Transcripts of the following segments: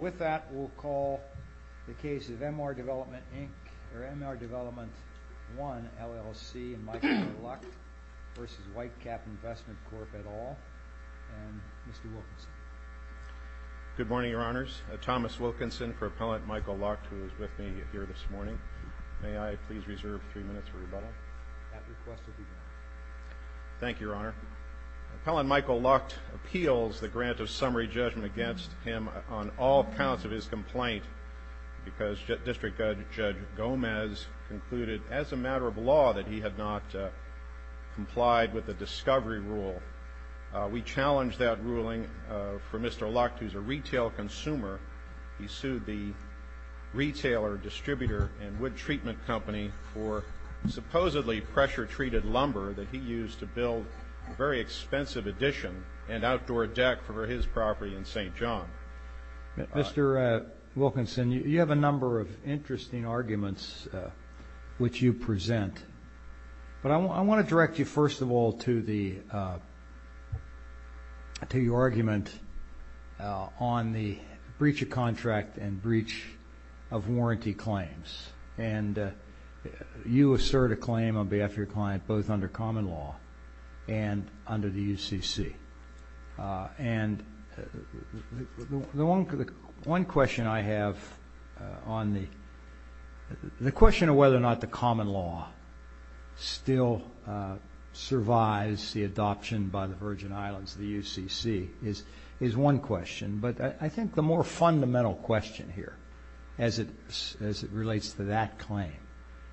Mr. Wilkinson. Good morning, Your Honors. Thomas Wilkinson for Appellant Michael Lucht, who is with me here this morning. May I please reserve three minutes for rebuttal? That request will be granted. Thank you, Your Honor. Appellant Michael Lucht appeals the grant of summary for all counts of his complaint, because District Judge Gomez concluded as a matter of law that he had not complied with the discovery rule. We challenge that ruling for Mr. Lucht, who is a retail consumer. He sued the retailer, distributor, and wood treatment company for supposedly pressure-treated lumber that he used to build a very expensive addition and Mr. Wilkinson, you have a number of interesting arguments which you present, but I want to direct you, first of all, to your argument on the breach of contract and breach of warranty claims. You assert a claim on behalf of your client, both under common law and under the statute of limitations. One question I have on the question of whether or not the common law still survives the adoption by the Virgin Islands, the UCC, is one question, but I think the more fundamental question here as it relates to that claim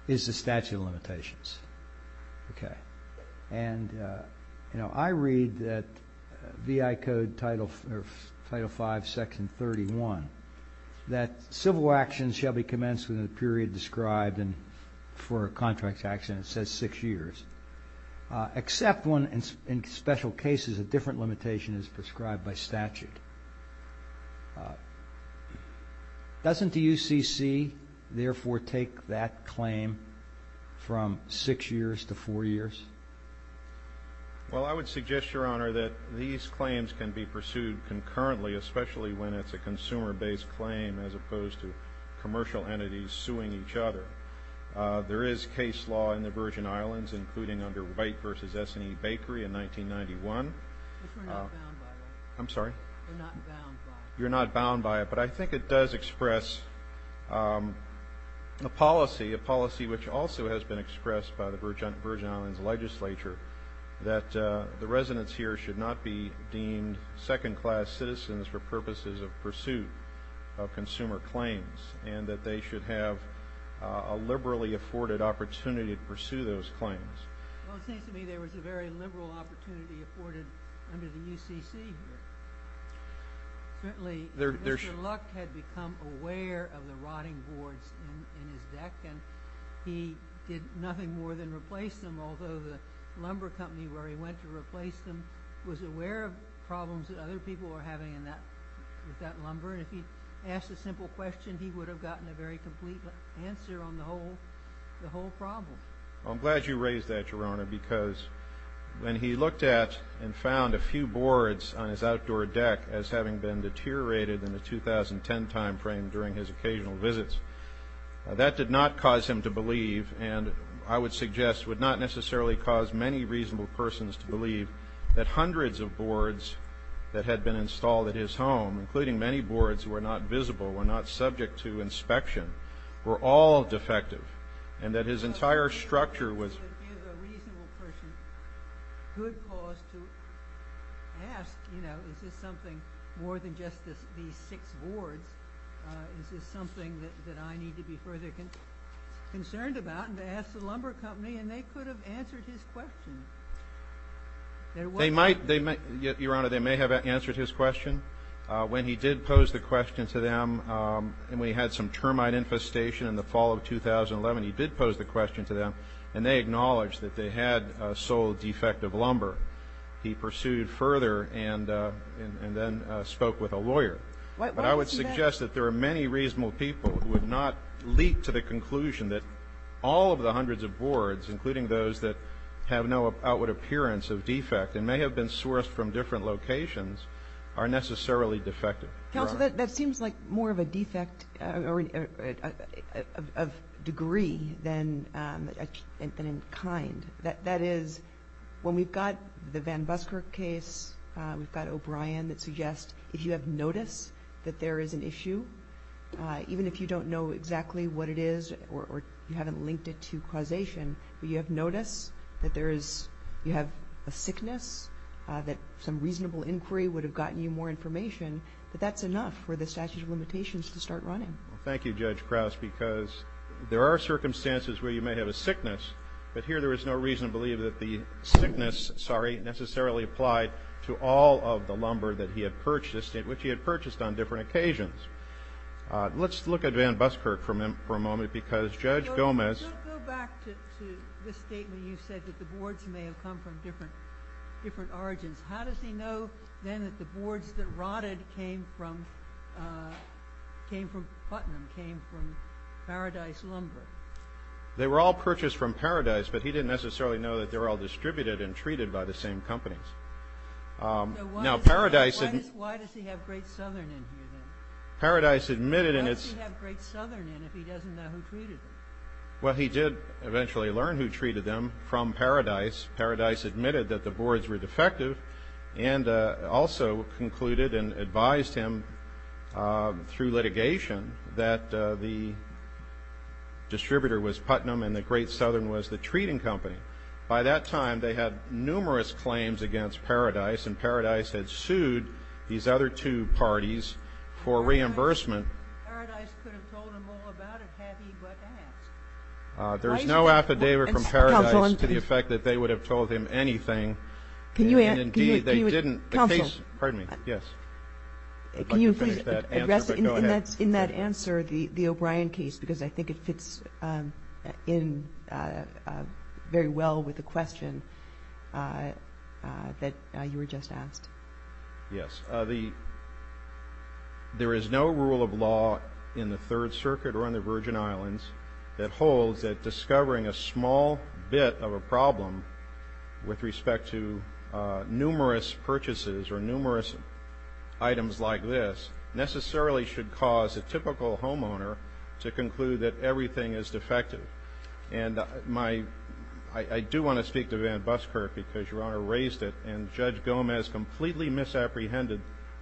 is the statute of limitations. I read that VI Code Title V, Section 31, that civil actions shall be commenced within the period described for a contract action, it says six years, except when in special cases a different limitation is prescribed by statute. Doesn't the UCC therefore take that claim from six years to four years? Well, I would suggest, Your Honor, that these claims can be pursued concurrently, especially when it's a consumer-based claim as opposed to commercial entities suing each other. There is case law in the Virgin Islands, including under White v. S&E Bakery in 1991. Which we're not bound by, though. I'm sorry? We're not bound by it. You're not bound by it, but I think it does express a policy, a policy which also has been presented to the Virgin Islands Legislature that the residents here should not be deemed second-class citizens for purposes of pursuit of consumer claims, and that they should have a liberally afforded opportunity to pursue those claims. Well, it seems to me there was a very liberal opportunity afforded under the UCC here. Certainly, Mr. Luck had become aware of the rotting boards in his deck, and he did nothing more than replace them, although the lumber company where he went to replace them was aware of problems that other people were having with that lumber, and if he'd asked a simple question, he would have gotten a very complete answer on the whole problem. Well, I'm glad you raised that, Your Honor, because when he looked at and found a few boards on his outdoor deck as having been deteriorated in the 2010 timeframe during his occasional visits, that did not cause him to believe, and I would suggest would not necessarily cause many reasonable persons to believe, that hundreds of boards that had been installed at his home, including many boards who were not visible, were not subject to inspection, were all defective, and that his entire structure was It gives a reasonable person good cause to ask, you know, is this something more than just these six boards? Is this something that I need to be further concerned about? And to ask the lumber company, and they could have answered his question. They might, Your Honor, they may have answered his question. When he did pose the question to them, when he had some termite infestation in the fall of 2011, he did pose the question to them, and they acknowledged that they had a sole defective lumber. He pursued further and then spoke with a lawyer. But I would suggest that there are many reasonable people who would not leap to the conclusion that all of the hundreds of boards, including those that have no outward appearance of defect and may have been sourced from different locations, are necessarily defective. Counsel, that seems like more of a defect of degree than in kind. That is, when we've got the Van Busker case, we've got O'Brien that suggests, if you have notice that there is an issue, even if you don't know exactly what it is or you haven't linked it to causation, but you have notice that you have a sickness, that some reasonable inquiry would have gotten you more information, that that's enough for the statute of limitations to start running. Thank you, Judge Krauss, because there are circumstances where you may have a sickness, but here there is no reason to believe that the sickness necessarily applied to all of the lumber that he had purchased and which he had purchased on different occasions. Let's look at Van Busker for a moment because Judge Gomez Go back to this statement you said that the boards may have come from different origins. How does he know then that the boards that rotted came from Putnam, came from Paradise Lumber? They were all purchased from Paradise, but he didn't necessarily know that they were all distributed and treated by the same companies. Now, Paradise Why does he have Great Southern in here then? Paradise admitted Why does he have Great Southern in here if he doesn't know who treated them? Well, he did eventually learn who treated them from Paradise. Paradise admitted that the boards were defective and also concluded and advised him through litigation that the distributor was Putnam and that Great Southern was the treating company. By that time, they had numerous claims against Paradise, and Paradise had sued these other two parties for reimbursement. Paradise could have told him all about it had he but asked. There's no affidavit from Paradise to the effect that they would have told him anything. And, indeed, they didn't. Counsel. Pardon me. Yes. I'd like to finish that answer, but go ahead. Can you please address in that answer the O'Brien case, because I think it fits in very well with the question that you were just asked. Yes. There is no rule of law in the Third Circuit or in the Virgin Islands that holds that discovering a small bit of a problem with respect to numerous purchases or numerous items like this necessarily should cause a typical homeowner to conclude that everything is defective. And I do want to speak to Van Buskirk, because Your Honor raised it, and Judge Gomez completely misapprehended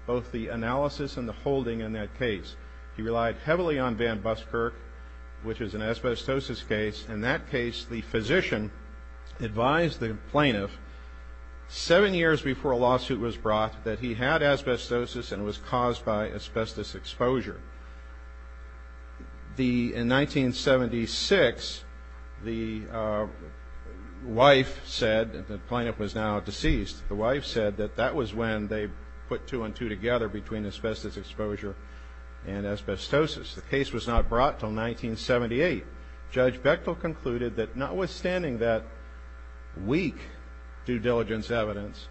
both the analysis and the holding in that case. He relied heavily on Van Buskirk, which is an asbestosis case. In that case, the physician advised the plaintiff seven years before a lawsuit was brought that he had asbestosis and it was caused by asbestos exposure. In 1976, the wife said, and the plaintiff was now deceased, the wife said that that was when they put two and two together between asbestos exposure and asbestosis. The case was not brought until 1978. Judge Bechtel concluded that notwithstanding that weak due diligence evidence,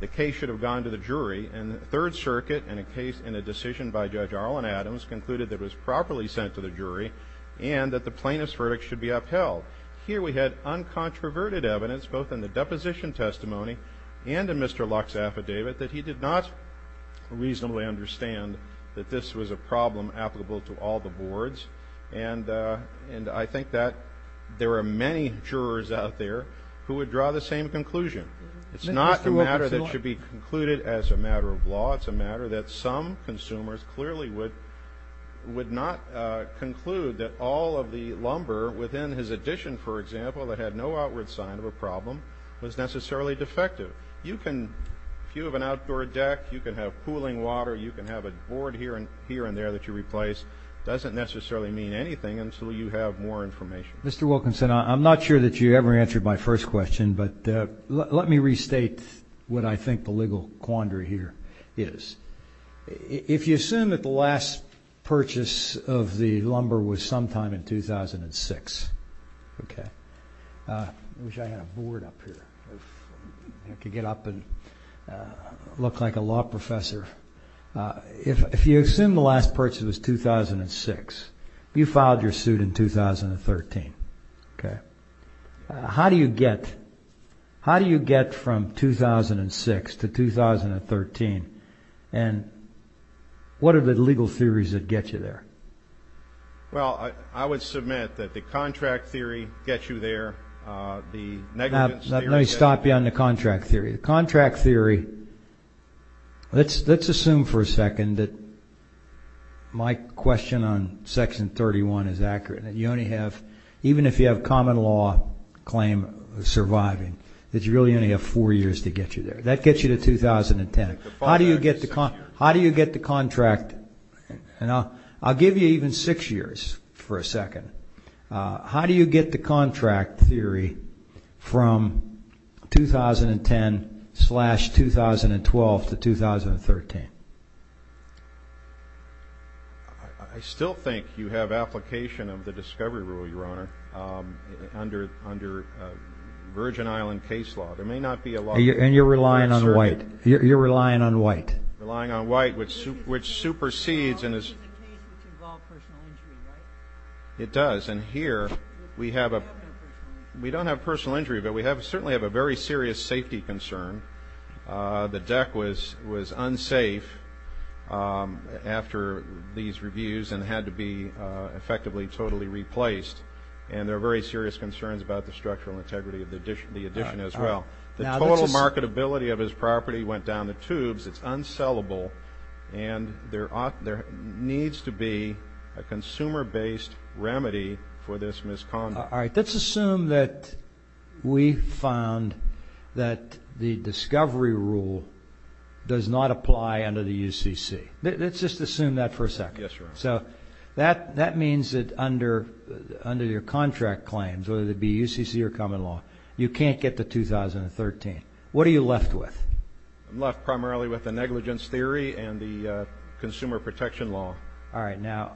the case should have gone to the jury, and the Third Circuit, in a decision by Judge Arlen Adams, concluded that it was properly sent to the jury and that the plaintiff's verdict should be upheld. Here we had uncontroverted evidence, both in the deposition testimony and in Mr. Luck's affidavit, that he did not reasonably understand that this was a problem applicable to all the boards. And I think that there are many jurors out there who would draw the same conclusion. It's not a matter that should be concluded as a matter of law. It's a matter that some consumers clearly would not conclude that all of the lumber within his addition, for example, that had no outward sign of a problem was necessarily defective. You can have an outdoor deck. You can have cooling water. You can have a board here and there that you replace. It doesn't necessarily mean anything until you have more information. Mr. Wilkinson, I'm not sure that you ever answered my first question, but let me restate what I think the legal quandary here is. If you assume that the last purchase of the lumber was sometime in 2006, I wish I had a board up here. I could get up and look like a law professor. If you assume the last purchase was 2006, you filed your suit in 2013. Okay. How do you get from 2006 to 2013? And what are the legal theories that get you there? Well, I would submit that the contract theory gets you there. Let me stop you on the contract theory. The contract theory, let's assume for a second that my question on Section 31 is accurate. Even if you have common law claim surviving, that you really only have four years to get you there. That gets you to 2010. How do you get the contract? And I'll give you even six years for a second. How do you get the contract theory from 2010-2012 to 2013? I still think you have application of the discovery rule, Your Honor, under Virgin Island case law. There may not be a law. And you're relying on white. You're relying on white. Relying on white, which supersedes and is... It's a case that involves personal injury, right? It does. And here we have a... We don't have personal injury. We don't have personal injury, but we certainly have a very serious safety concern. The deck was unsafe after these reviews and had to be effectively totally replaced. And there are very serious concerns about the structural integrity of the addition as well. The total marketability of his property went down the tubes. It's unsellable. And there needs to be a consumer-based remedy for this misconduct. All right, let's assume that we found that the discovery rule does not apply under the UCC. Let's just assume that for a second. Yes, Your Honor. So that means that under your contract claims, whether it be UCC or common law, you can't get to 2013. What are you left with? I'm left primarily with the negligence theory and the consumer protection law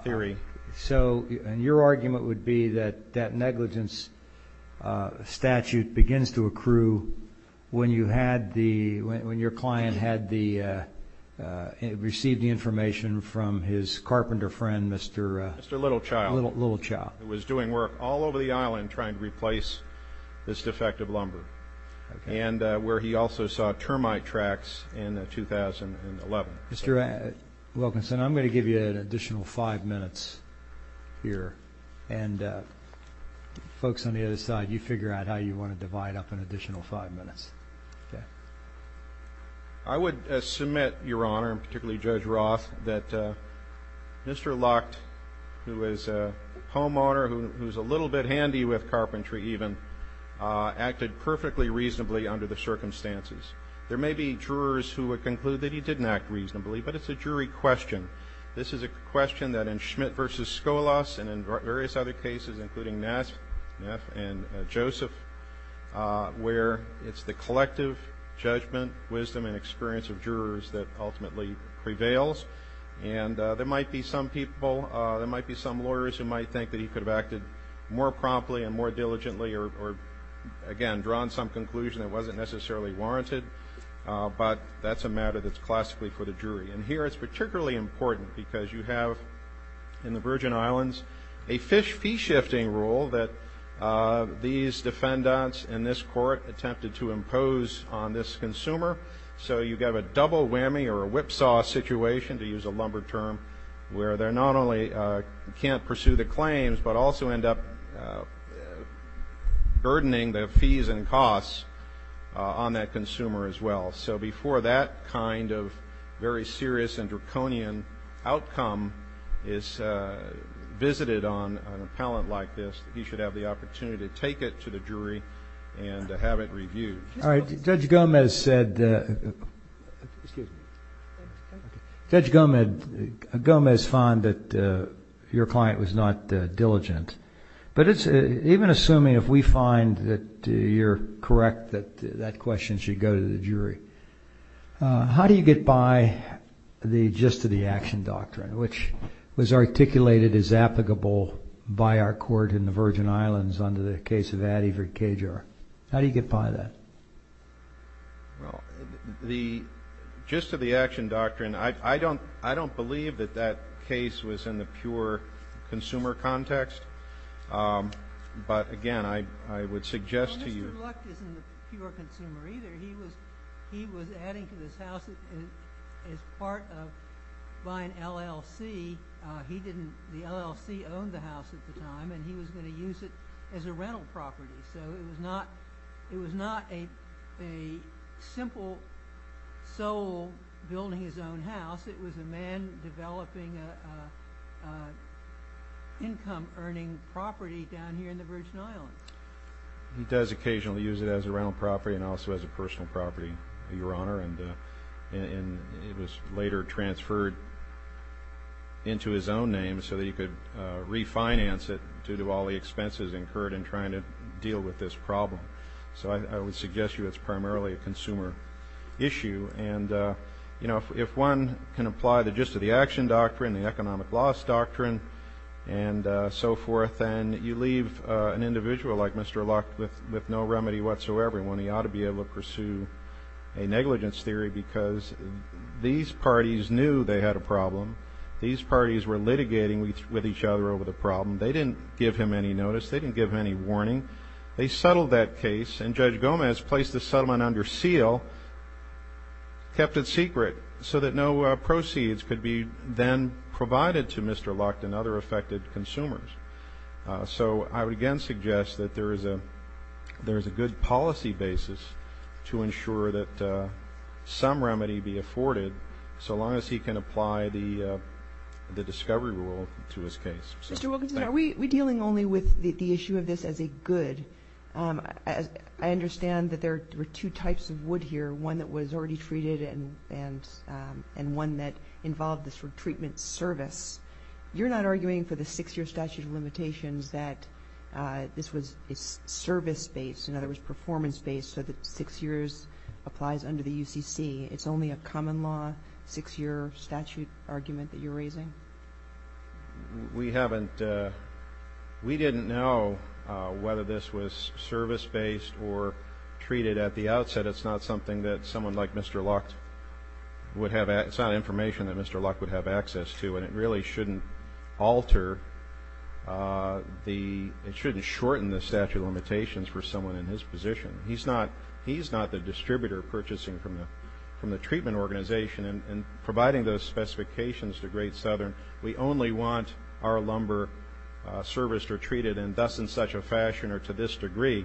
theory. So, and your argument would be that that negligence statute begins to accrue when you had the, when your client had the, received the information from his carpenter friend, Mr.... Mr. Littlechild. Littlechild. Who was doing work all over the island trying to replace this defective lumber. And where he also saw termite tracks in 2011. Mr. Wilkinson, I'm going to give you an additional five minutes here. And folks on the other side, you figure out how you want to divide up an additional five minutes. Okay. I would submit, Your Honor, and particularly Judge Roth, that Mr. Lucht, who is a homeowner, who is a little bit handy with carpentry even, acted perfectly reasonably under the circumstances. There may be jurors who would conclude that he didn't act reasonably, but it's a jury question. This is a question that in Schmidt v. Scholas and in various other cases, including Neff and Joseph, where it's the collective judgment, wisdom, and experience of jurors that ultimately prevails. And there might be some people, there might be some lawyers who might think that he could have acted more promptly and more diligently or, again, drawn some conclusion that wasn't necessarily warranted. But that's a matter that's classically for the jury. And here it's particularly important because you have in the Virgin Islands a fish fee shifting rule that these defendants in this court attempted to impose on this consumer. So you have a double whammy or a whipsaw situation, to use a lumber term, where they not only can't pursue the claims but also end up burdening the fees and costs on that consumer as well. So before that kind of very serious and draconian outcome is visited on an appellant like this, he should have the opportunity to take it to the jury and to have it reviewed. All right. Judge Gomez found that your client was not diligent. But even assuming if we find that you're correct that that question should go to the jury, how do you get by the gist of the action doctrine, which was articulated as applicable by our court in the Virgin Islands under the case of Addy v. Cajar? How do you get by that? Well, the gist of the action doctrine, I don't believe that that case was in the pure consumer context. But, again, I would suggest to you. Well, Mr. Luck isn't a pure consumer either. He was adding to this house as part of buying LLC. The LLC owned the house at the time and he was going to use it as a rental property. So it was not a simple soul building his own house. It was a man developing an income-earning property down here in the Virgin Islands. He does occasionally use it as a rental property and also as a personal property, Your Honor. And it was later transferred into his own name so that he could refinance it due to all the expenses incurred in trying to deal with this problem. So I would suggest to you it's primarily a consumer issue. And if one can apply the gist of the action doctrine, the economic loss doctrine, and so forth, and you leave an individual like Mr. Luck with no remedy whatsoever, and one ought to be able to pursue a negligence theory because these parties knew they had a problem. These parties were litigating with each other over the problem. They didn't give him any notice. They didn't give him any warning. They settled that case and Judge Gomez placed the settlement under seal, kept it secret so that no proceeds could be then provided to Mr. Luck and other affected consumers. So I would again suggest that there is a good policy basis to ensure that some remedy be afforded so long as he can apply the discovery rule to his case. Mr. Wilkinson, are we dealing only with the issue of this as a good? I understand that there were two types of wood here, one that was already treated and one that involved this retreatment service. You're not arguing for the six-year statute of limitations that this was service-based, in other words, performance-based, so that six years applies under the UCC. It's only a common law six-year statute argument that you're raising? We haven't we didn't know whether this was service-based or treated at the outset. It's not something that someone like Mr. Luck would have it's not information that Mr. Luck would have access to, and it really shouldn't alter the it shouldn't shorten the statute of limitations for someone in his position. He's not the distributor purchasing from the treatment organization and providing those specifications to Great Southern. We only want our lumber serviced or treated in thus and such a fashion or to this degree.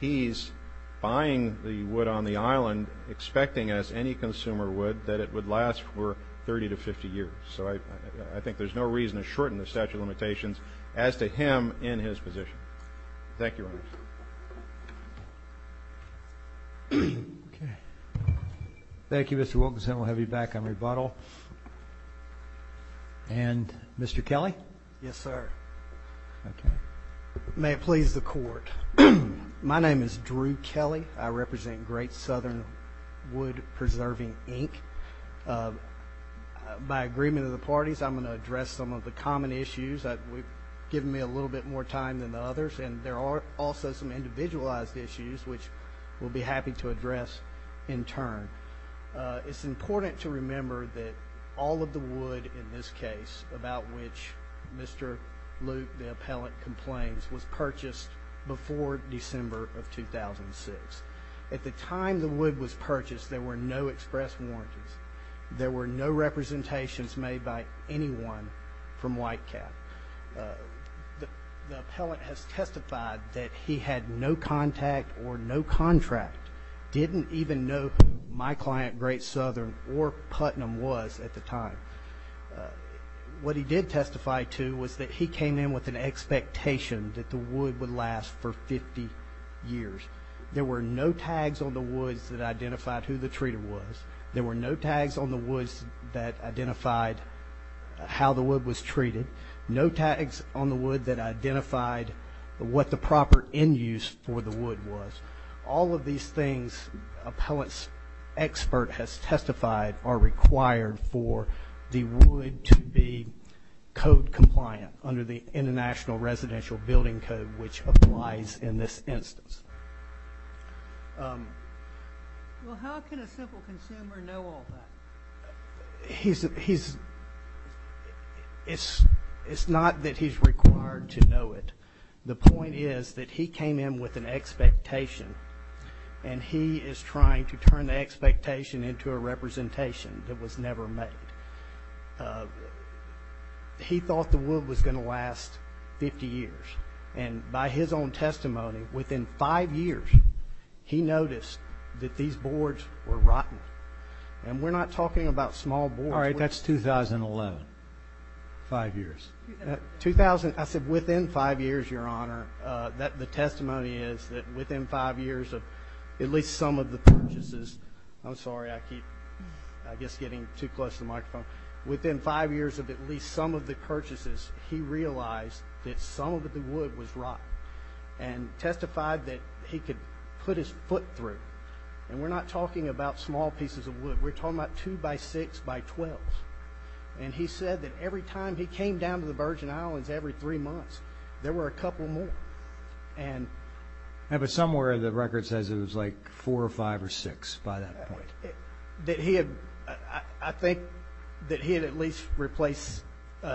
He's buying the wood on the island, expecting, as any consumer would, that it would last for 30 to 50 years. So I think there's no reason to shorten the statute of limitations as to him in his position. Thank you, Your Honor. Okay. Thank you, Mr. Wilkinson. We'll have you back on rebuttal. And Mr. Kelly? Yes, sir. Okay. May it please the Court. My name is Drew Kelly. I represent Great Southern Wood Preserving, Inc. By agreement of the parties, I'm going to address some of the common issues. You've given me a little bit more time than the others, and there are also some individualized issues which we'll be happy to address in turn. It's important to remember that all of the wood in this case, about which Mr. Luke, the appellant, complains, was purchased before December of 2006. At the time the wood was purchased, there were no express warranties. There were no representations made by anyone from Whitecap. The appellant has testified that he had no contact or no contract, didn't even know who my client, Great Southern, or Putnam, was at the time. What he did testify to was that he came in with an expectation that the wood would last for 50 years. There were no tags on the woods that identified who the treater was. There were no tags on the woods that identified how the wood was treated, no tags on the wood that identified what the proper end use for the wood was. All of these things appellant's expert has testified are required for the wood to be code compliant under the International Residential Building Code, which applies in this instance. Well, how can a simple consumer know all that? It's not that he's required to know it. The point is that he came in with an expectation, and he is trying to turn the expectation into a representation that was never made. He thought the wood was going to last 50 years. And by his own testimony, within five years, he noticed that these boards were rotten. And we're not talking about small boards. All right, that's 2011, five years. I said within five years, Your Honor. The testimony is that within five years of at least some of the purchases. I'm sorry, I keep, I guess, getting too close to the microphone. Within five years of at least some of the purchases, he realized that some of the wood was rotten and testified that he could put his foot through. And we're not talking about small pieces of wood. We're talking about two-by-six-by-twelves. And he said that every time he came down to the Virgin Islands every three months, there were a couple more. Yeah, but somewhere in the record says it was like four or five or six by that point. That he had, I think, that he had at least replaced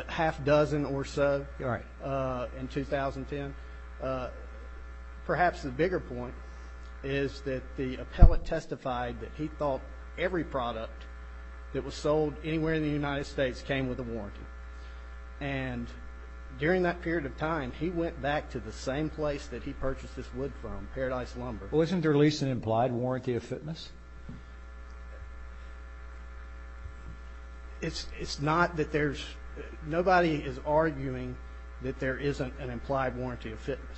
half a dozen or so in 2010. Perhaps the bigger point is that the appellate testified that he thought every product that was sold anywhere in the United States came with a warranty. And during that period of time, he went back to the same place that he purchased this wood from, Paradise Lumber. Wasn't there at least an implied warranty of fitness? It's not that there's, nobody is arguing that there isn't an implied warranty of fitness.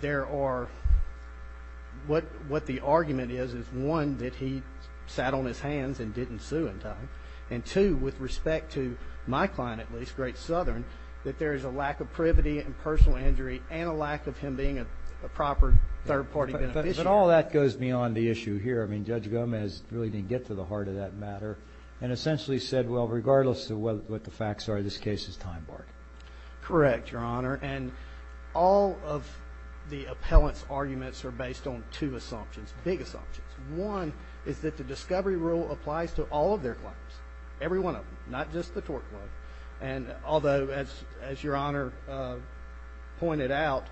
There are, what the argument is, is one, that he sat on his hands and didn't sue in time. And two, with respect to my client, at least, Great Southern, that there is a lack of privity and personal injury and a lack of him being a proper third-party beneficiary. But all that goes beyond the issue here. I mean, Judge Gomez really didn't get to the heart of that matter and essentially said, well, regardless of what the facts are, this case is time-barred. Correct, Your Honor. And all of the appellant's arguments are based on two assumptions, big assumptions. One is that the discovery rule applies to all of their clients, every one of them, not just the Torque Club. And although, as Your Honor pointed out,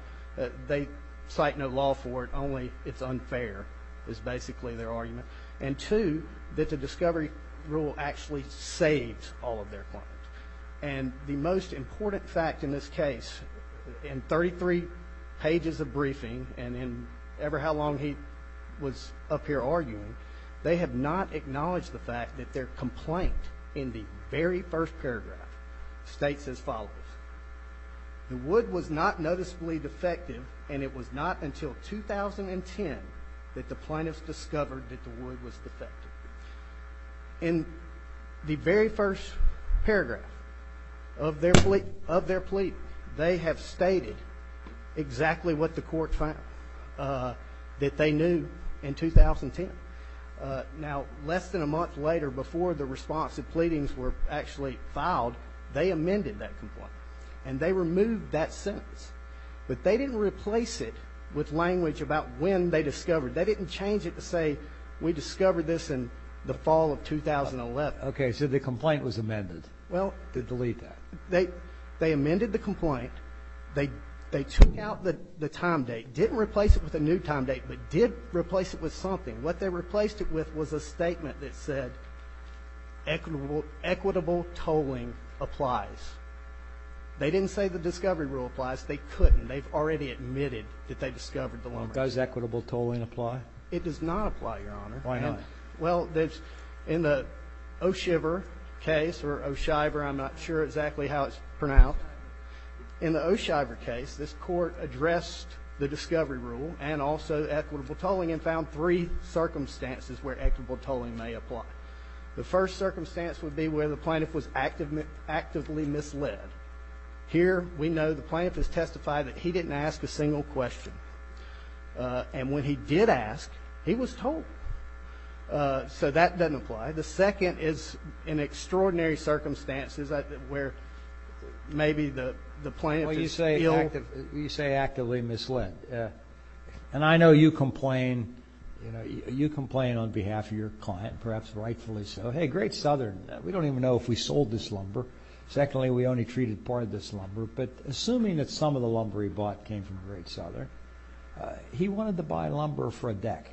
they cite no law for it, only it's unfair is basically their argument. And two, that the discovery rule actually saves all of their clients. And the most important fact in this case, in 33 pages of briefing and in ever how long he was up here arguing, they have not acknowledged the fact that their complaint in the very first paragraph states as follows. The wood was not noticeably defective and it was not until 2010 that the plaintiffs discovered that the wood was defective. In the very first paragraph of their plea, they have stated exactly what the court found that they knew in 2010. Now, less than a month later, before the response of pleadings were actually filed, they amended that complaint and they removed that sentence. But they didn't replace it with language about when they discovered. They didn't change it to say we discovered this in the fall of 2011. Okay. So the complaint was amended to delete that. They amended the complaint. They took out the time date, didn't replace it with a new time date, but did replace it with something. What they replaced it with was a statement that said equitable tolling applies. They didn't say the discovery rule applies. They couldn't. They've already admitted that they discovered the lumber. Does equitable tolling apply? It does not apply, Your Honor. Why not? Well, in the O'Shiver case, or O'Shiver, I'm not sure exactly how it's pronounced. In the O'Shiver case, this court addressed the discovery rule and also equitable tolling and found three circumstances where equitable tolling may apply. The first circumstance would be where the plaintiff was actively misled. Here we know the plaintiff has testified that he didn't ask a single question. And when he did ask, he was told. So that doesn't apply. The second is in extraordinary circumstances where maybe the plaintiff is ill. Well, you say actively misled. And I know you complain, you know, you complain on behalf of your client, perhaps rightfully so. Hey, Great Southern, we don't even know if we sold this lumber. Secondly, we only treated part of this lumber. But assuming that some of the lumber he bought came from Great Southern, he wanted to buy lumber for a deck,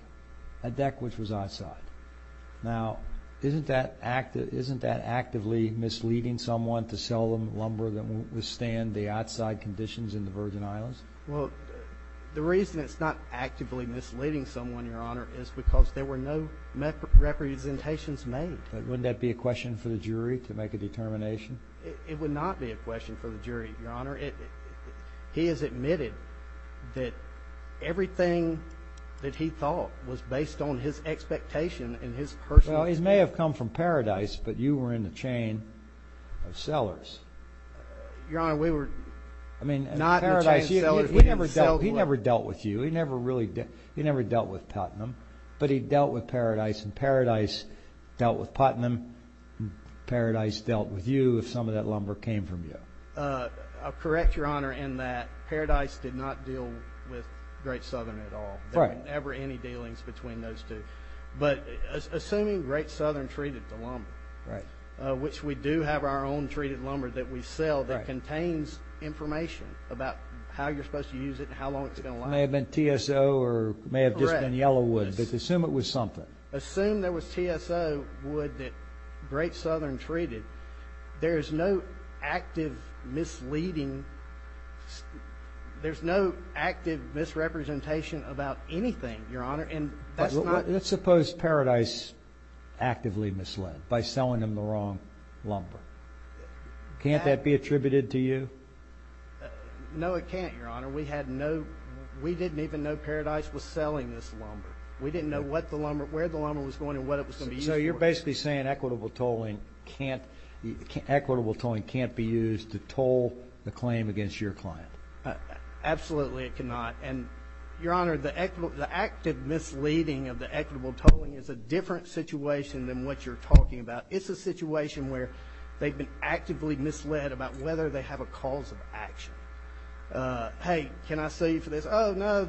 a deck which was outside. Now, isn't that actively misleading someone to sell them lumber that wouldn't withstand the outside conditions in the Virgin Islands? Well, the reason it's not actively misleading someone, Your Honor, is because there were no representations made. But wouldn't that be a question for the jury to make a determination? It would not be a question for the jury, Your Honor. He has admitted that everything that he thought was based on his expectation and his personal opinion. Well, it may have come from Paradise, but you were in the chain of sellers. Your Honor, we were not in the chain of sellers. He never dealt with you. But he dealt with Paradise. And Paradise dealt with Putnam. Paradise dealt with you if some of that lumber came from you. I'll correct, Your Honor, in that Paradise did not deal with Great Southern at all. There were never any dealings between those two. But assuming Great Southern treated the lumber, which we do have our own treated lumber that we sell that contains information about how you're supposed to use it and how long it's going to last. It may have been TSO or it may have just been Yellowwood. Correct. But assume it was something. Assume there was TSO wood that Great Southern treated. There is no active misleading. There's no active misrepresentation about anything, Your Honor. Let's suppose Paradise actively misled by selling him the wrong lumber. Can't that be attributed to you? No, it can't, Your Honor. We didn't even know Paradise was selling this lumber. We didn't know where the lumber was going and what it was going to be used for. So you're basically saying equitable tolling can't be used to toll the claim against your client. Absolutely it cannot. And, Your Honor, the active misleading of the equitable tolling is a different situation than what you're talking about. It's a situation where they've been actively misled about whether they have a cause of action. Hey, can I sue you for this? Oh, no,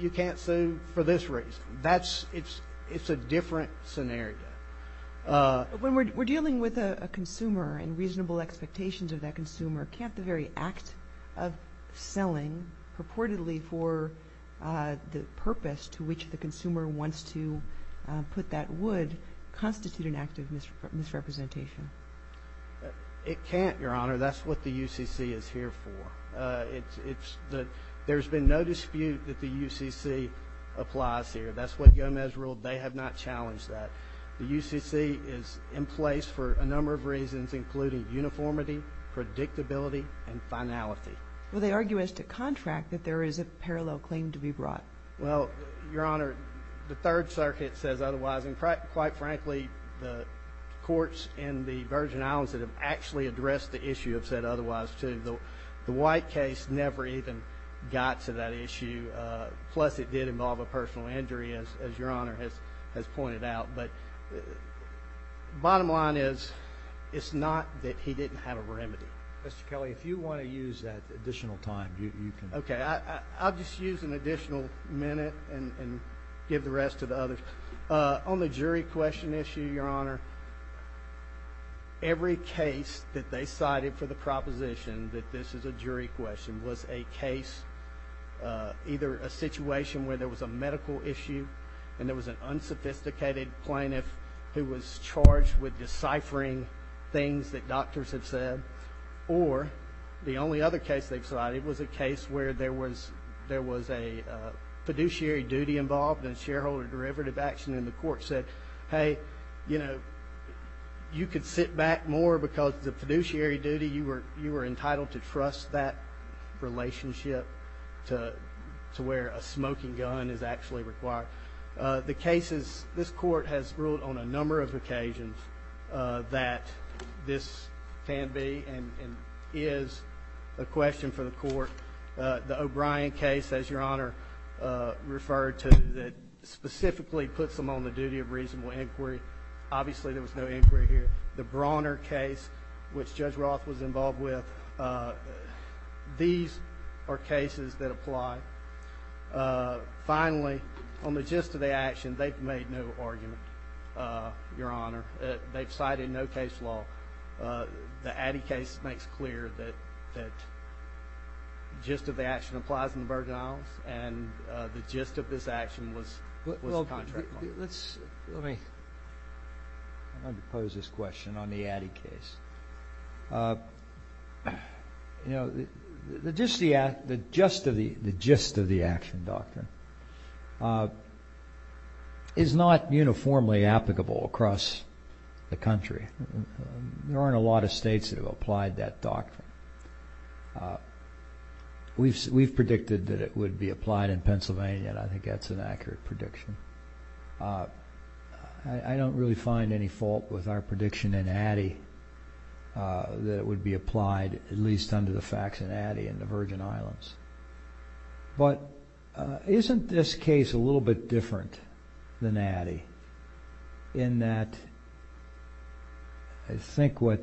you can't sue for this reason. It's a different scenario. When we're dealing with a consumer and reasonable expectations of that consumer, can't the very act of selling purportedly for the purpose to which the consumer wants to put that wood constitute an active misrepresentation? It can't, Your Honor. That's what the UCC is here for. There's been no dispute that the UCC applies here. That's what Gomez ruled. They have not challenged that. The UCC is in place for a number of reasons, including uniformity, predictability, and finality. Well, they argue as to contract that there is a parallel claim to be brought. Well, Your Honor, the Third Circuit says otherwise. And quite frankly, the courts in the Virgin Islands that have actually addressed the issue have said otherwise, too. The White case never even got to that issue. Plus, it did involve a personal injury, as Your Honor has pointed out. But the bottom line is it's not that he didn't have a remedy. Mr. Kelly, if you want to use that additional time, you can. Okay, I'll just use an additional minute and give the rest to the others. On the jury question issue, Your Honor, every case that they cited for the proposition that this is a jury question was a case, either a situation where there was a medical issue and there was an unsophisticated plaintiff who was charged with deciphering things that doctors had said, or the only other case they've cited was a case where there was a fiduciary duty involved in shareholder derivative action and the court said, hey, you know, you could sit back more because the fiduciary duty, you were entitled to trust that relationship to where a smoking gun is actually required. The cases, this court has ruled on a number of occasions that this can be and is a question for the court. The O'Brien case, as Your Honor referred to, specifically puts them on the duty of reasonable inquiry. Obviously, there was no inquiry here. The Brawner case, which Judge Roth was involved with, these are cases that apply. Finally, on the gist of the action, they've made no argument, Your Honor. They've cited no case law. The Addy case makes clear that the gist of the action applies in the Virgin Islands and the gist of this action was a contract. Let me pose this question on the Addy case. You know, the gist of the action doctrine is not uniformly applicable across the country. There aren't a lot of states that have applied that doctrine. We've predicted that it would be applied in Pennsylvania, and I think that's an accurate prediction. I don't really find any fault with our prediction in Addy that it would be applied, at least under the facts in Addy and the Virgin Islands. But isn't this case a little bit different than Addy in that I think what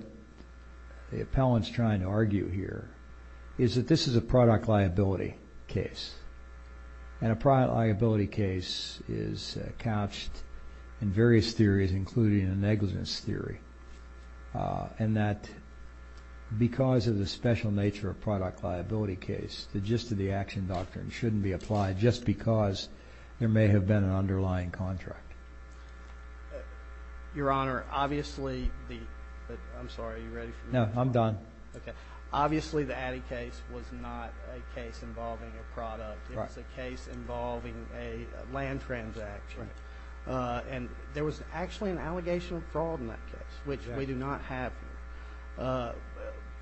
the appellant's trying to argue here is that this is a product liability case, and a product liability case is couched in various theories, including a negligence theory, and that because of the special nature of a product liability case, the gist of the action doctrine shouldn't be applied just because there may have been an underlying contract. Your Honor, obviously the – I'm sorry, are you ready for me? No, I'm done. Okay. Obviously the Addy case was not a case involving a product. It was a case involving a land transaction. Right. And there was actually an allegation of fraud in that case, which we do not have.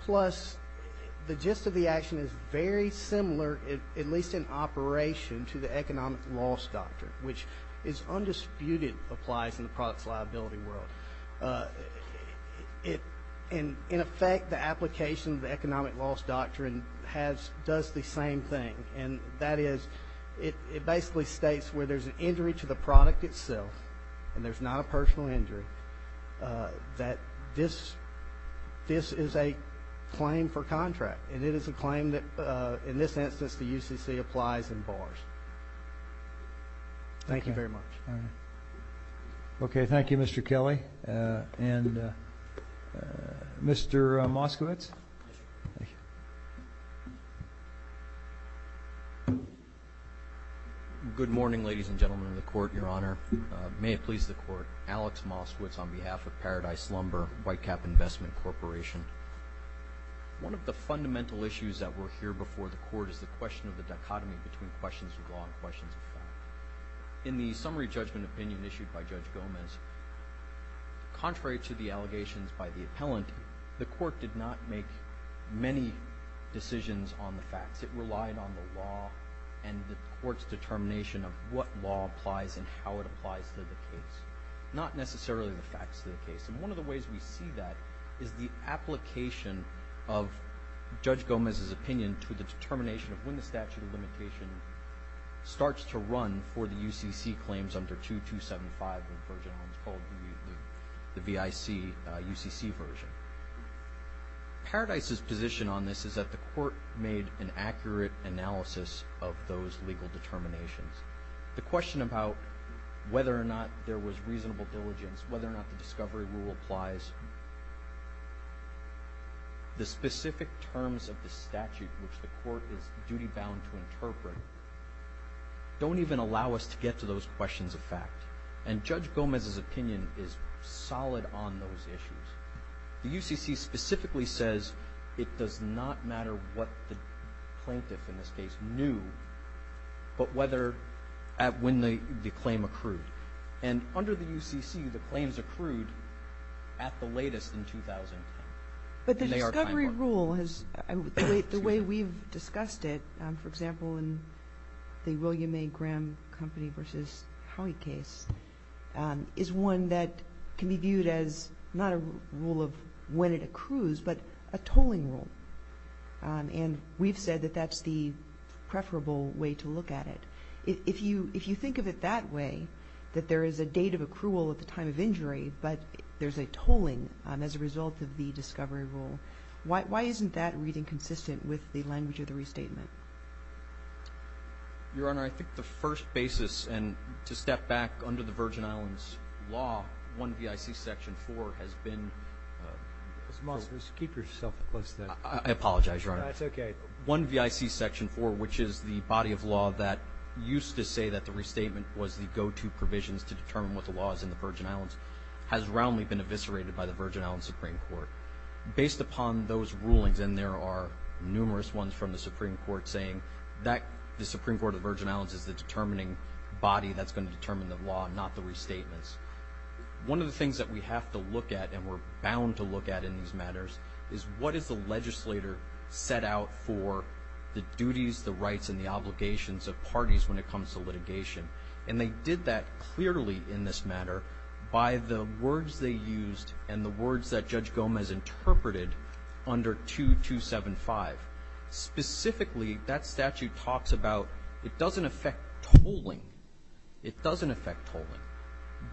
Plus, the gist of the action is very similar, at least in operation, to the economic loss doctrine, which is undisputed applies in the products liability world. In effect, the application of the economic loss doctrine does the same thing, and that is it basically states where there's an injury to the product itself and there's not a personal injury, that this is a claim for contract, and it is a claim that in this instance the UCC applies in bars. Thank you very much. All right. Okay. Thank you, Mr. Kelly. And Mr. Moskowitz. Thank you. Good morning, ladies and gentlemen of the Court, Your Honor. May it please the Court. Alex Moskowitz on behalf of Paradise Lumber, Whitecap Investment Corporation. One of the fundamental issues that were here before the Court is the question of the dichotomy between questions of law and questions of fact. In the summary judgment opinion issued by Judge Gomez, contrary to the allegations by the appellant, the Court did not make many decisions on the facts. It relied on the law and the Court's determination of what law applies and how it applies to the case, not necessarily the facts of the case. And one of the ways we see that is the application of Judge Gomez's opinion to the determination of when the statute of limitation starts to run for the UCC claims under 2275, the version of which is called the BIC UCC version. Paradise's position on this is that the Court made an accurate analysis of those legal determinations. The question about whether or not there was reasonable diligence, whether or not the discovery rule applies, the specific terms of the statute which the Court is duty-bound to interpret don't even allow us to get to those questions of fact. And Judge Gomez's opinion is solid on those issues. The UCC specifically says it does not matter what the plaintiff, in this case, knew, but whether at when the claim accrued. And under the UCC, the claims accrued at the latest in 2010. But the discovery rule, the way we've discussed it, for example, in the William A. Graham Company v. Howey case, is one that can be viewed as not a rule of when it accrues, but a tolling rule. And we've said that that's the preferable way to look at it. If you think of it that way, that there is a date of accrual at the time of injury, but there's a tolling as a result of the discovery rule, why isn't that reading consistent with the language of the restatement? Your Honor, I think the first basis, and to step back under the Virgin Islands law, 1 V.I.C. Section 4 has been ---- Mr. Moss, keep yourself close to that. I apologize, Your Honor. That's okay. 1 V.I.C. Section 4, which is the body of law that used to say that the restatement was the go-to provisions to determine what the law is in the Virgin Islands, has roundly been eviscerated by the Virgin Islands Supreme Court. Based upon those rulings, and there are numerous ones from the Supreme Court saying that the Supreme Court of the Virgin Islands is the determining body that's going to determine the law, not the restatements. One of the things that we have to look at and we're bound to look at in these matters is what is the legislator set out for the duties, the rights, and the obligations of parties when it comes to litigation. And they did that clearly in this matter by the words they used and the words that Judge Gomez interpreted under 2275. Specifically, that statute talks about it doesn't affect tolling. It doesn't affect tolling.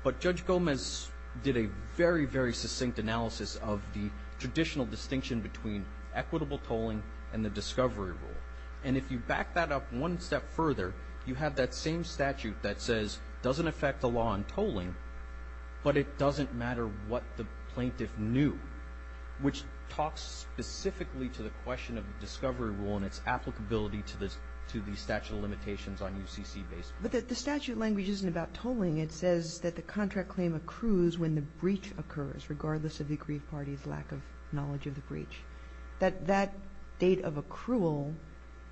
But Judge Gomez did a very, very succinct analysis of the traditional distinction between equitable tolling and the discovery rule. And if you back that up one step further, you have that same statute that says it doesn't affect the law on tolling, but it doesn't matter what the plaintiff knew, which talks specifically to the question of the discovery rule and its applicability to the statute of limitations on UCC-based plaintiffs. But the statute language isn't about tolling. It says that the contract claim accrues when the breach occurs, regardless of the aggrieved party's lack of knowledge of the breach. That date of accrual,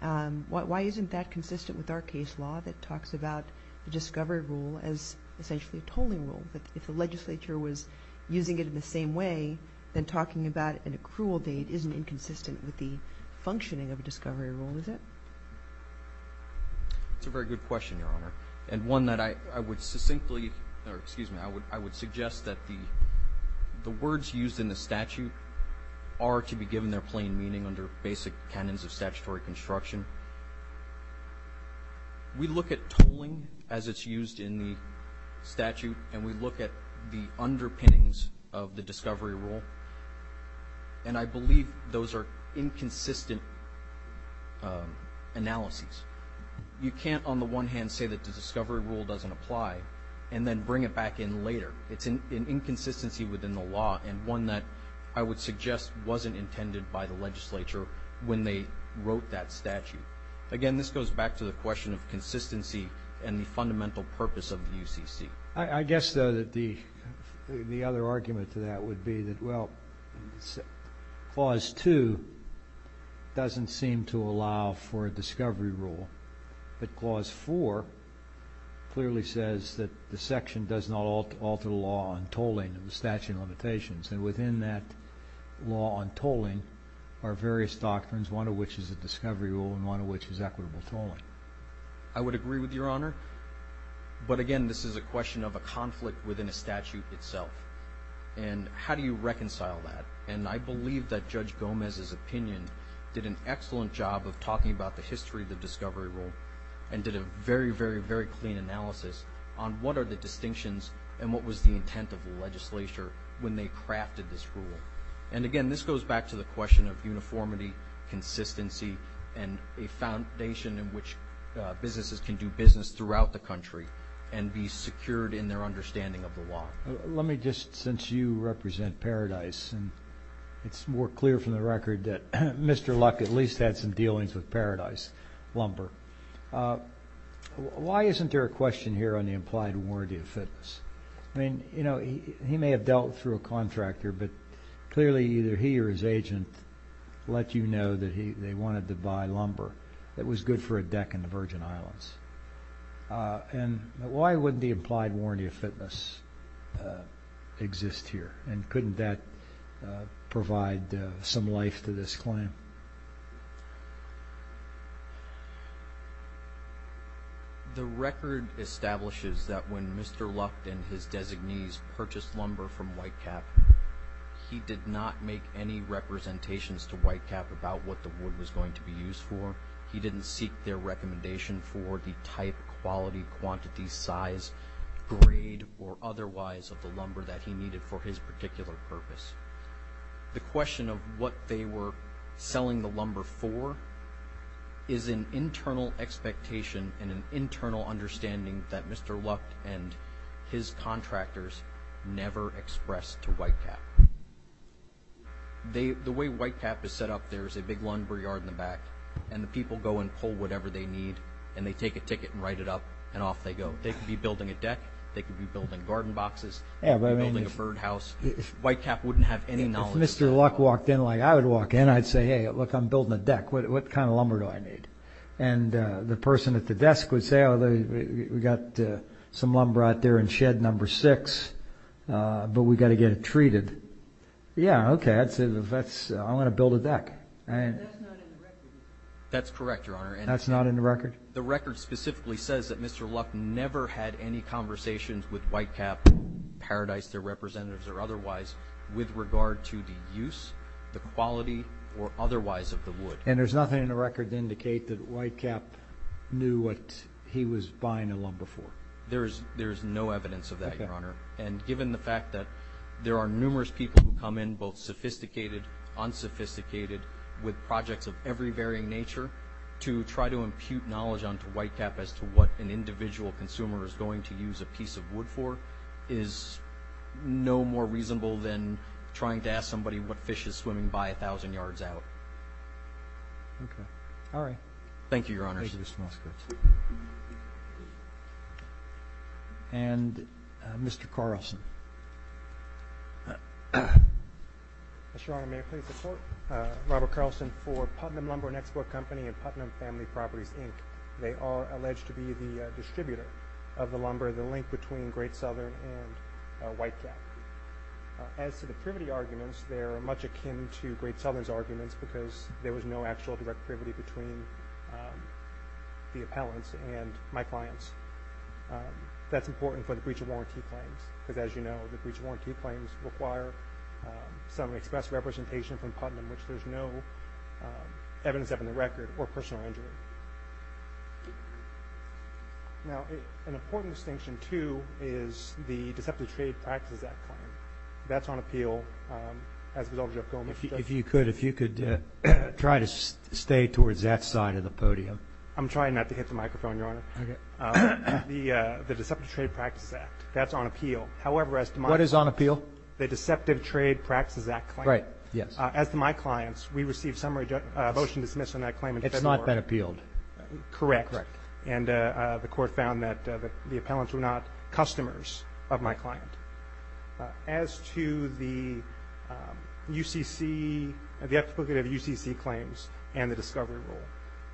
why isn't that consistent with our case law that talks about the discovery rule as essentially a tolling rule? But if the legislature was using it in the same way, then talking about an accrual date isn't inconsistent with the functioning of a discovery rule, is it? That's a very good question, Your Honor, and one that I would suggest that the words used in the statute are to be given their plain meaning under basic canons of statutory construction. We look at tolling as it's used in the statute, and we look at the underpinnings of the discovery rule, and I believe those are inconsistent analyses. You can't, on the one hand, say that the discovery rule doesn't apply and then bring it back in later. It's an inconsistency within the law and one that I would suggest wasn't intended by the legislature when they wrote that statute. Again, this goes back to the question of consistency and the fundamental purpose of the UCC. I guess, though, that the other argument to that would be that, well, Clause 2 doesn't seem to allow for a discovery rule, but Clause 4 clearly says that the section does not alter the law on tolling in the statute of limitations, and within that law on tolling are various doctrines, one of which is a discovery rule and one of which is equitable tolling. I would agree with Your Honor, but, again, this is a question of a conflict within a statute itself, and how do you reconcile that? And I believe that Judge Gomez's opinion did an excellent job of talking about the history of the discovery rule and did a very, very, very clean analysis on what are the distinctions and what was the intent of the legislature when they crafted this rule. And, again, this goes back to the question of uniformity, consistency, and a foundation in which businesses can do business throughout the country and be secured in their understanding of the law. Let me just, since you represent Paradise, and it's more clear from the record that Mr. Luck at least had some dealings with Paradise Lumber, why isn't there a question here on the implied warranty of fitness? I mean, you know, he may have dealt through a contractor, but clearly either he or his agent let you know that they wanted to buy lumber that was good for a deck in the Virgin Islands. And why wouldn't the implied warranty of fitness exist here? And couldn't that provide some life to this claim? The record establishes that when Mr. Luck and his designees purchased lumber from Whitecap, he did not make any representations to Whitecap about what the wood was going to be used for. He didn't seek their recommendation for the type, quality, quantity, size, grade, or otherwise of the lumber that he needed for his particular purpose. The question of what they were selling the lumber for is an internal expectation and an internal understanding that Mr. Luck and his contractors never expressed to Whitecap. The way Whitecap is set up, there's a big lumber yard in the back, and the people go and pull whatever they need, and they take a ticket and write it up, and off they go. They could be building a deck. They could be building garden boxes. They could be building a birdhouse. Whitecap wouldn't have any knowledge of that. If Mr. Luck walked in like I would walk in, I'd say, hey, look, I'm building a deck. What kind of lumber do I need? And the person at the desk would say, oh, we've got some lumber out there in shed number six, but we've got to get it treated. Yeah, okay, I want to build a deck. That's not in the record. That's correct, Your Honor. That's not in the record? The record specifically says that Mr. Luck never had any conversations with Whitecap, Paradise, their representatives, or otherwise with regard to the use, the quality, or otherwise of the wood. And there's nothing in the record to indicate that Whitecap knew what he was buying the lumber for? There's no evidence of that, Your Honor, and given the fact that there are numerous people who come in, both sophisticated, unsophisticated, with projects of every varying nature, to try to impute knowledge onto Whitecap as to what an individual consumer is going to use a piece of wood for is no more reasonable than trying to ask somebody what fish is swimming by 1,000 yards out. Okay, all right. Thank you, Your Honor. Thank you, Mr. Moskowitz. And Mr. Carlson. Mr. Honor, may I please report? Robert Carlson for Putnam Lumber and Export Company and Putnam Family Properties, Inc. They are alleged to be the distributor of the lumber, and they are the link between Great Southern and Whitecap. As to the privity arguments, they are much akin to Great Southern's arguments because there was no actual direct privity between the appellants and my clients. That's important for the breach of warranty claims because, as you know, the breach of warranty claims require some express representation from Putnam, which there's no evidence of in the record, or personal injury. Now, an important distinction, too, is the Deceptive Trade Practices Act claim. That's on appeal as a result of Jeff Goldman's judgment. If you could try to stay towards that side of the podium. I'm trying not to hit the microphone, Your Honor. Okay. The Deceptive Trade Practices Act, that's on appeal. However, as to my clients. What is on appeal? The Deceptive Trade Practices Act claim. Right, yes. As to my clients, we received a motion to dismiss on that claim in February. That appealed. Correct. Correct. And the court found that the appellants were not customers of my client. As to the UCC, the application of UCC claims and the discovery rule,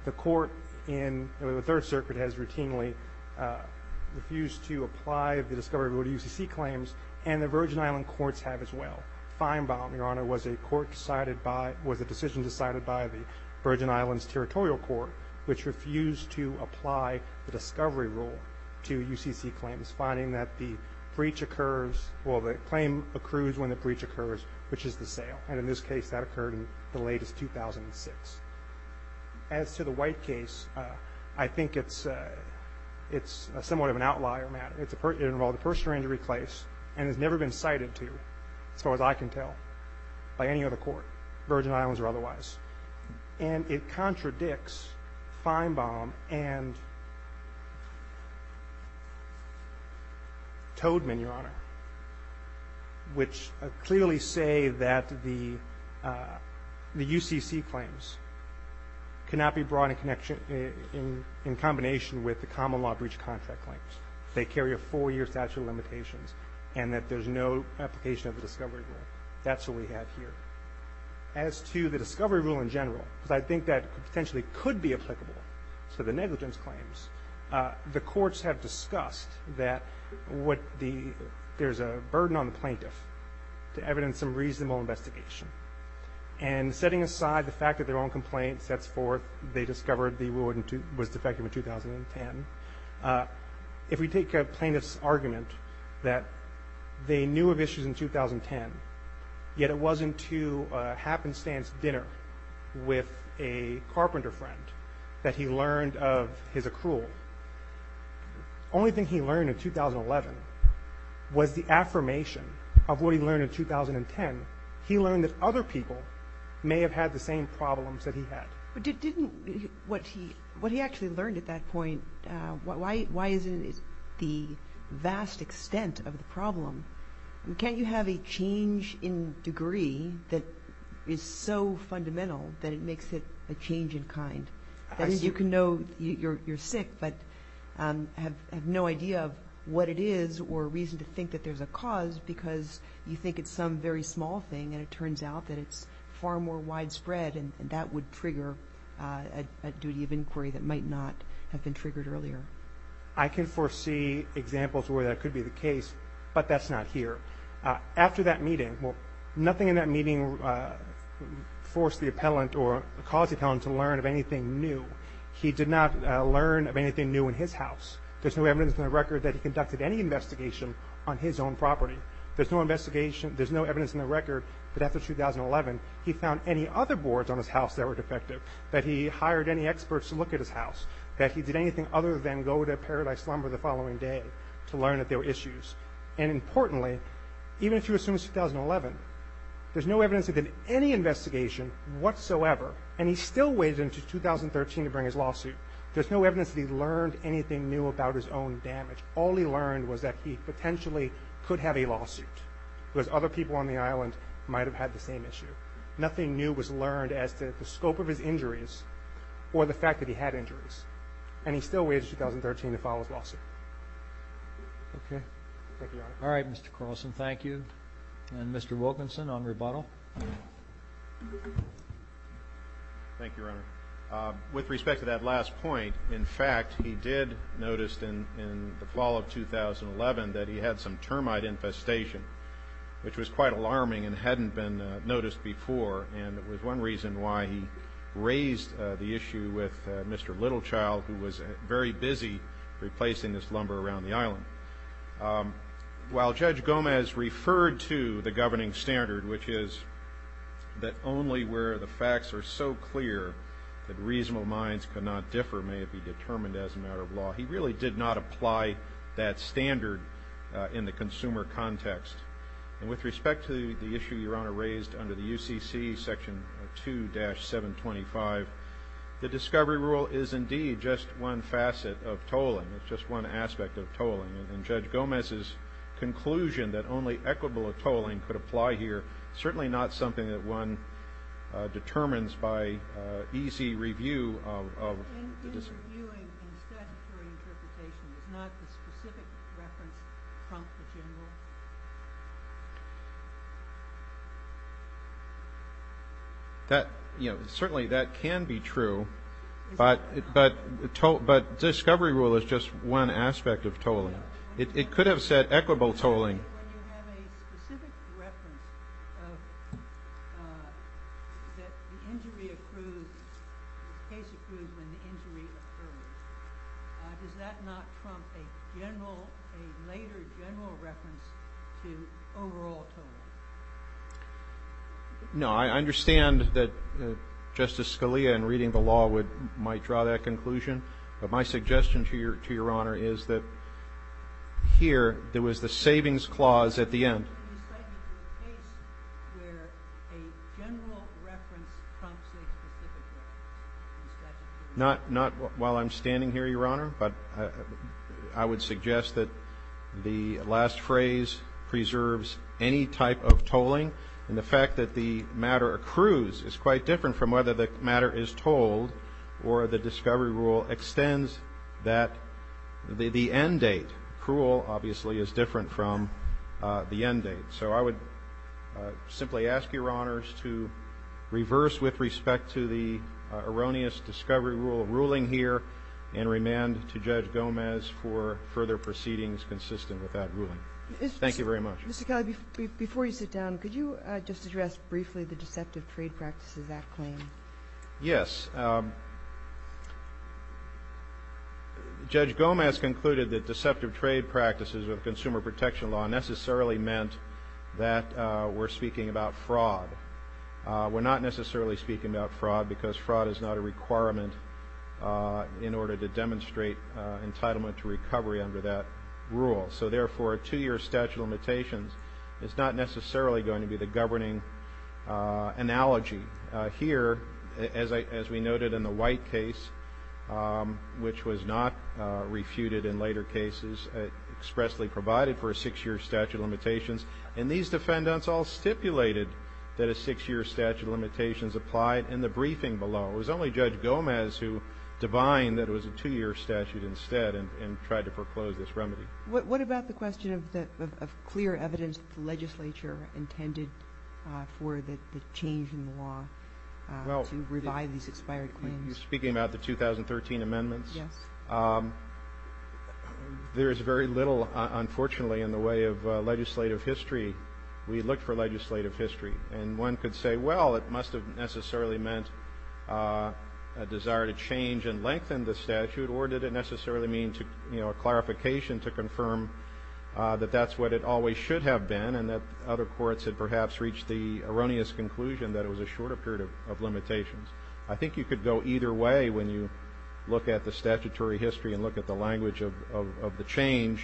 the court in the Third Circuit has routinely refused to apply the discovery rule to UCC claims, and the Virgin Island courts have as well. Your Honor, was a decision decided by the Virgin Islands Territorial Court, which refused to apply the discovery rule to UCC claims, finding that the claim accrues when the breach occurs, which is the sale. And in this case, that occurred in the latest, 2006. As to the White case, I think it's somewhat of an outlier matter. It's a personal injury case and has never been cited to, as far as I can tell, by any other court, Virgin Islands or otherwise. And it contradicts Feinbaum and Toadman, Your Honor, which clearly say that the UCC claims cannot be brought in combination with the common law breach contract claims. They carry a four-year statute of limitations and that there's no application of the discovery rule. That's what we have here. As to the discovery rule in general, because I think that potentially could be applicable to the negligence claims, the courts have discussed that there's a burden on the plaintiff to evidence some reasonable investigation. And setting aside the fact that their own complaint sets forth they discovered the rule was defective in 2010, if we take a plaintiff's argument that they knew of issues in 2010, yet it wasn't to a happenstance dinner with a carpenter friend that he learned of his accrual, the only thing he learned in 2011 was the affirmation of what he learned in 2010. He learned that other people may have had the same problems that he had. But didn't what he actually learned at that point, why isn't it the vast extent of the problem? Can't you have a change in degree that is so fundamental that it makes it a change in kind? You can know you're sick but have no idea of what it is or reason to think that there's a cause because you think it's some very small thing and it turns out that it's far more widespread and that would trigger a duty of inquiry that might not have been triggered earlier. I can foresee examples where that could be the case, but that's not here. After that meeting, nothing in that meeting forced the appellant or caused the appellant to learn of anything new. He did not learn of anything new in his house. There's no evidence in the record that he conducted any investigation on his own property. There's no investigation, there's no evidence in the record that after 2011 he found any other boards on his house that were defective, that he hired any experts to look at his house, that he did anything other than go to Paradise Lumber the following day to learn that there were issues. And importantly, even if you assume it's 2011, there's no evidence that he did any investigation whatsoever and he still waited until 2013 to bring his lawsuit. There's no evidence that he learned anything new about his own damage. All he learned was that he potentially could have a lawsuit because other people on the island might have had the same issue. Nothing new was learned as to the scope of his injuries or the fact that he had injuries. And he still waited until 2013 to file his lawsuit. Okay. Thank you, Your Honor. All right, Mr. Carlson, thank you. And Mr. Wilkinson on rebuttal. Thank you, Your Honor. With respect to that last point, in fact, he did notice in the fall of 2011 that he had some termite infestation, which was quite alarming and hadn't been noticed before, and it was one reason why he raised the issue with Mr. Littlechild, who was very busy replacing this lumber around the island. While Judge Gomez referred to the governing standard, which is that only where the facts are so clear that reasonable minds cannot differ may it be determined as a matter of law, he really did not apply that standard in the consumer context. And with respect to the issue Your Honor raised under the UCC, Section 2-725, the discovery rule is indeed just one facet of tolling. It's just one aspect of tolling. And Judge Gomez's conclusion that only equitable tolling could apply here, certainly not something that one determines by easy review of the dis- But in reviewing and statutory interpretation, is not the specific reference trumped the general? Certainly that can be true, but discovery rule is just one aspect of tolling. It could have said equitable tolling. When you have a specific reference that the injury accrues, the case accrues when the injury occurs, does that not trump a later general reference to overall tolling? No. I understand that Justice Scalia in reading the law might draw that conclusion, but my suggestion to Your Honor is that here, there was the savings clause at the end. So you're saying that there's a case where a general reference trumps a specific one? Not while I'm standing here, Your Honor, but I would suggest that the last phrase preserves any type of tolling, and the fact that the matter accrues is quite different from whether the matter is tolled or the discovery rule extends that the end date. Accrual, obviously, is different from the end date. So I would simply ask Your Honors to reverse with respect to the erroneous discovery rule ruling here and remand to Judge Gomez for further proceedings consistent with that ruling. Thank you very much. Mr. Kelly, before you sit down, could you just address briefly the Deceptive Trade Practices Act claim? Yes. Judge Gomez concluded that deceptive trade practices of consumer protection law necessarily meant that we're speaking about fraud. We're not necessarily speaking about fraud because fraud is not a requirement in order to demonstrate entitlement to recovery under that rule. So, therefore, a two-year statute of limitations is not necessarily going to be the governing analogy. Here, as we noted in the White case, which was not refuted in later cases, expressly provided for a six-year statute of limitations, and these defendants all stipulated that a six-year statute of limitations applied in the briefing below. It was only Judge Gomez who divined that it was a two-year statute instead and tried to foreclose this remedy. What about the question of clear evidence that the legislature intended for the change in the law to revive these expired claims? You're speaking about the 2013 amendments? Yes. There is very little, unfortunately, in the way of legislative history. We looked for legislative history, and one could say, well, it must have necessarily meant a desire to change and lengthen the statute, or did it necessarily mean a clarification to confirm that that's what it always should have been and that other courts had perhaps reached the erroneous conclusion that it was a shorter period of limitations. I think you could go either way when you look at the statutory history and look at the language of the change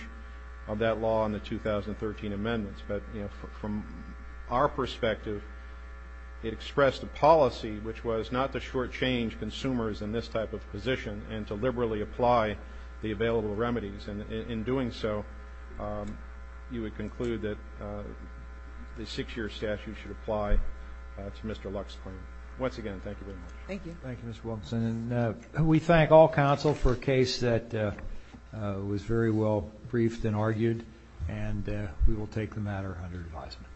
of that law in the 2013 amendments. But from our perspective, it expressed a policy which was not to shortchange consumers in this type of position and to liberally apply the available remedies. And in doing so, you would conclude that the six-year statute should apply to Mr. Luck's claim. Once again, thank you very much. Thank you. Thank you, Mr. Wilkinson. And we thank all counsel for a case that was very well briefed and argued, and we will take the matter under advisement.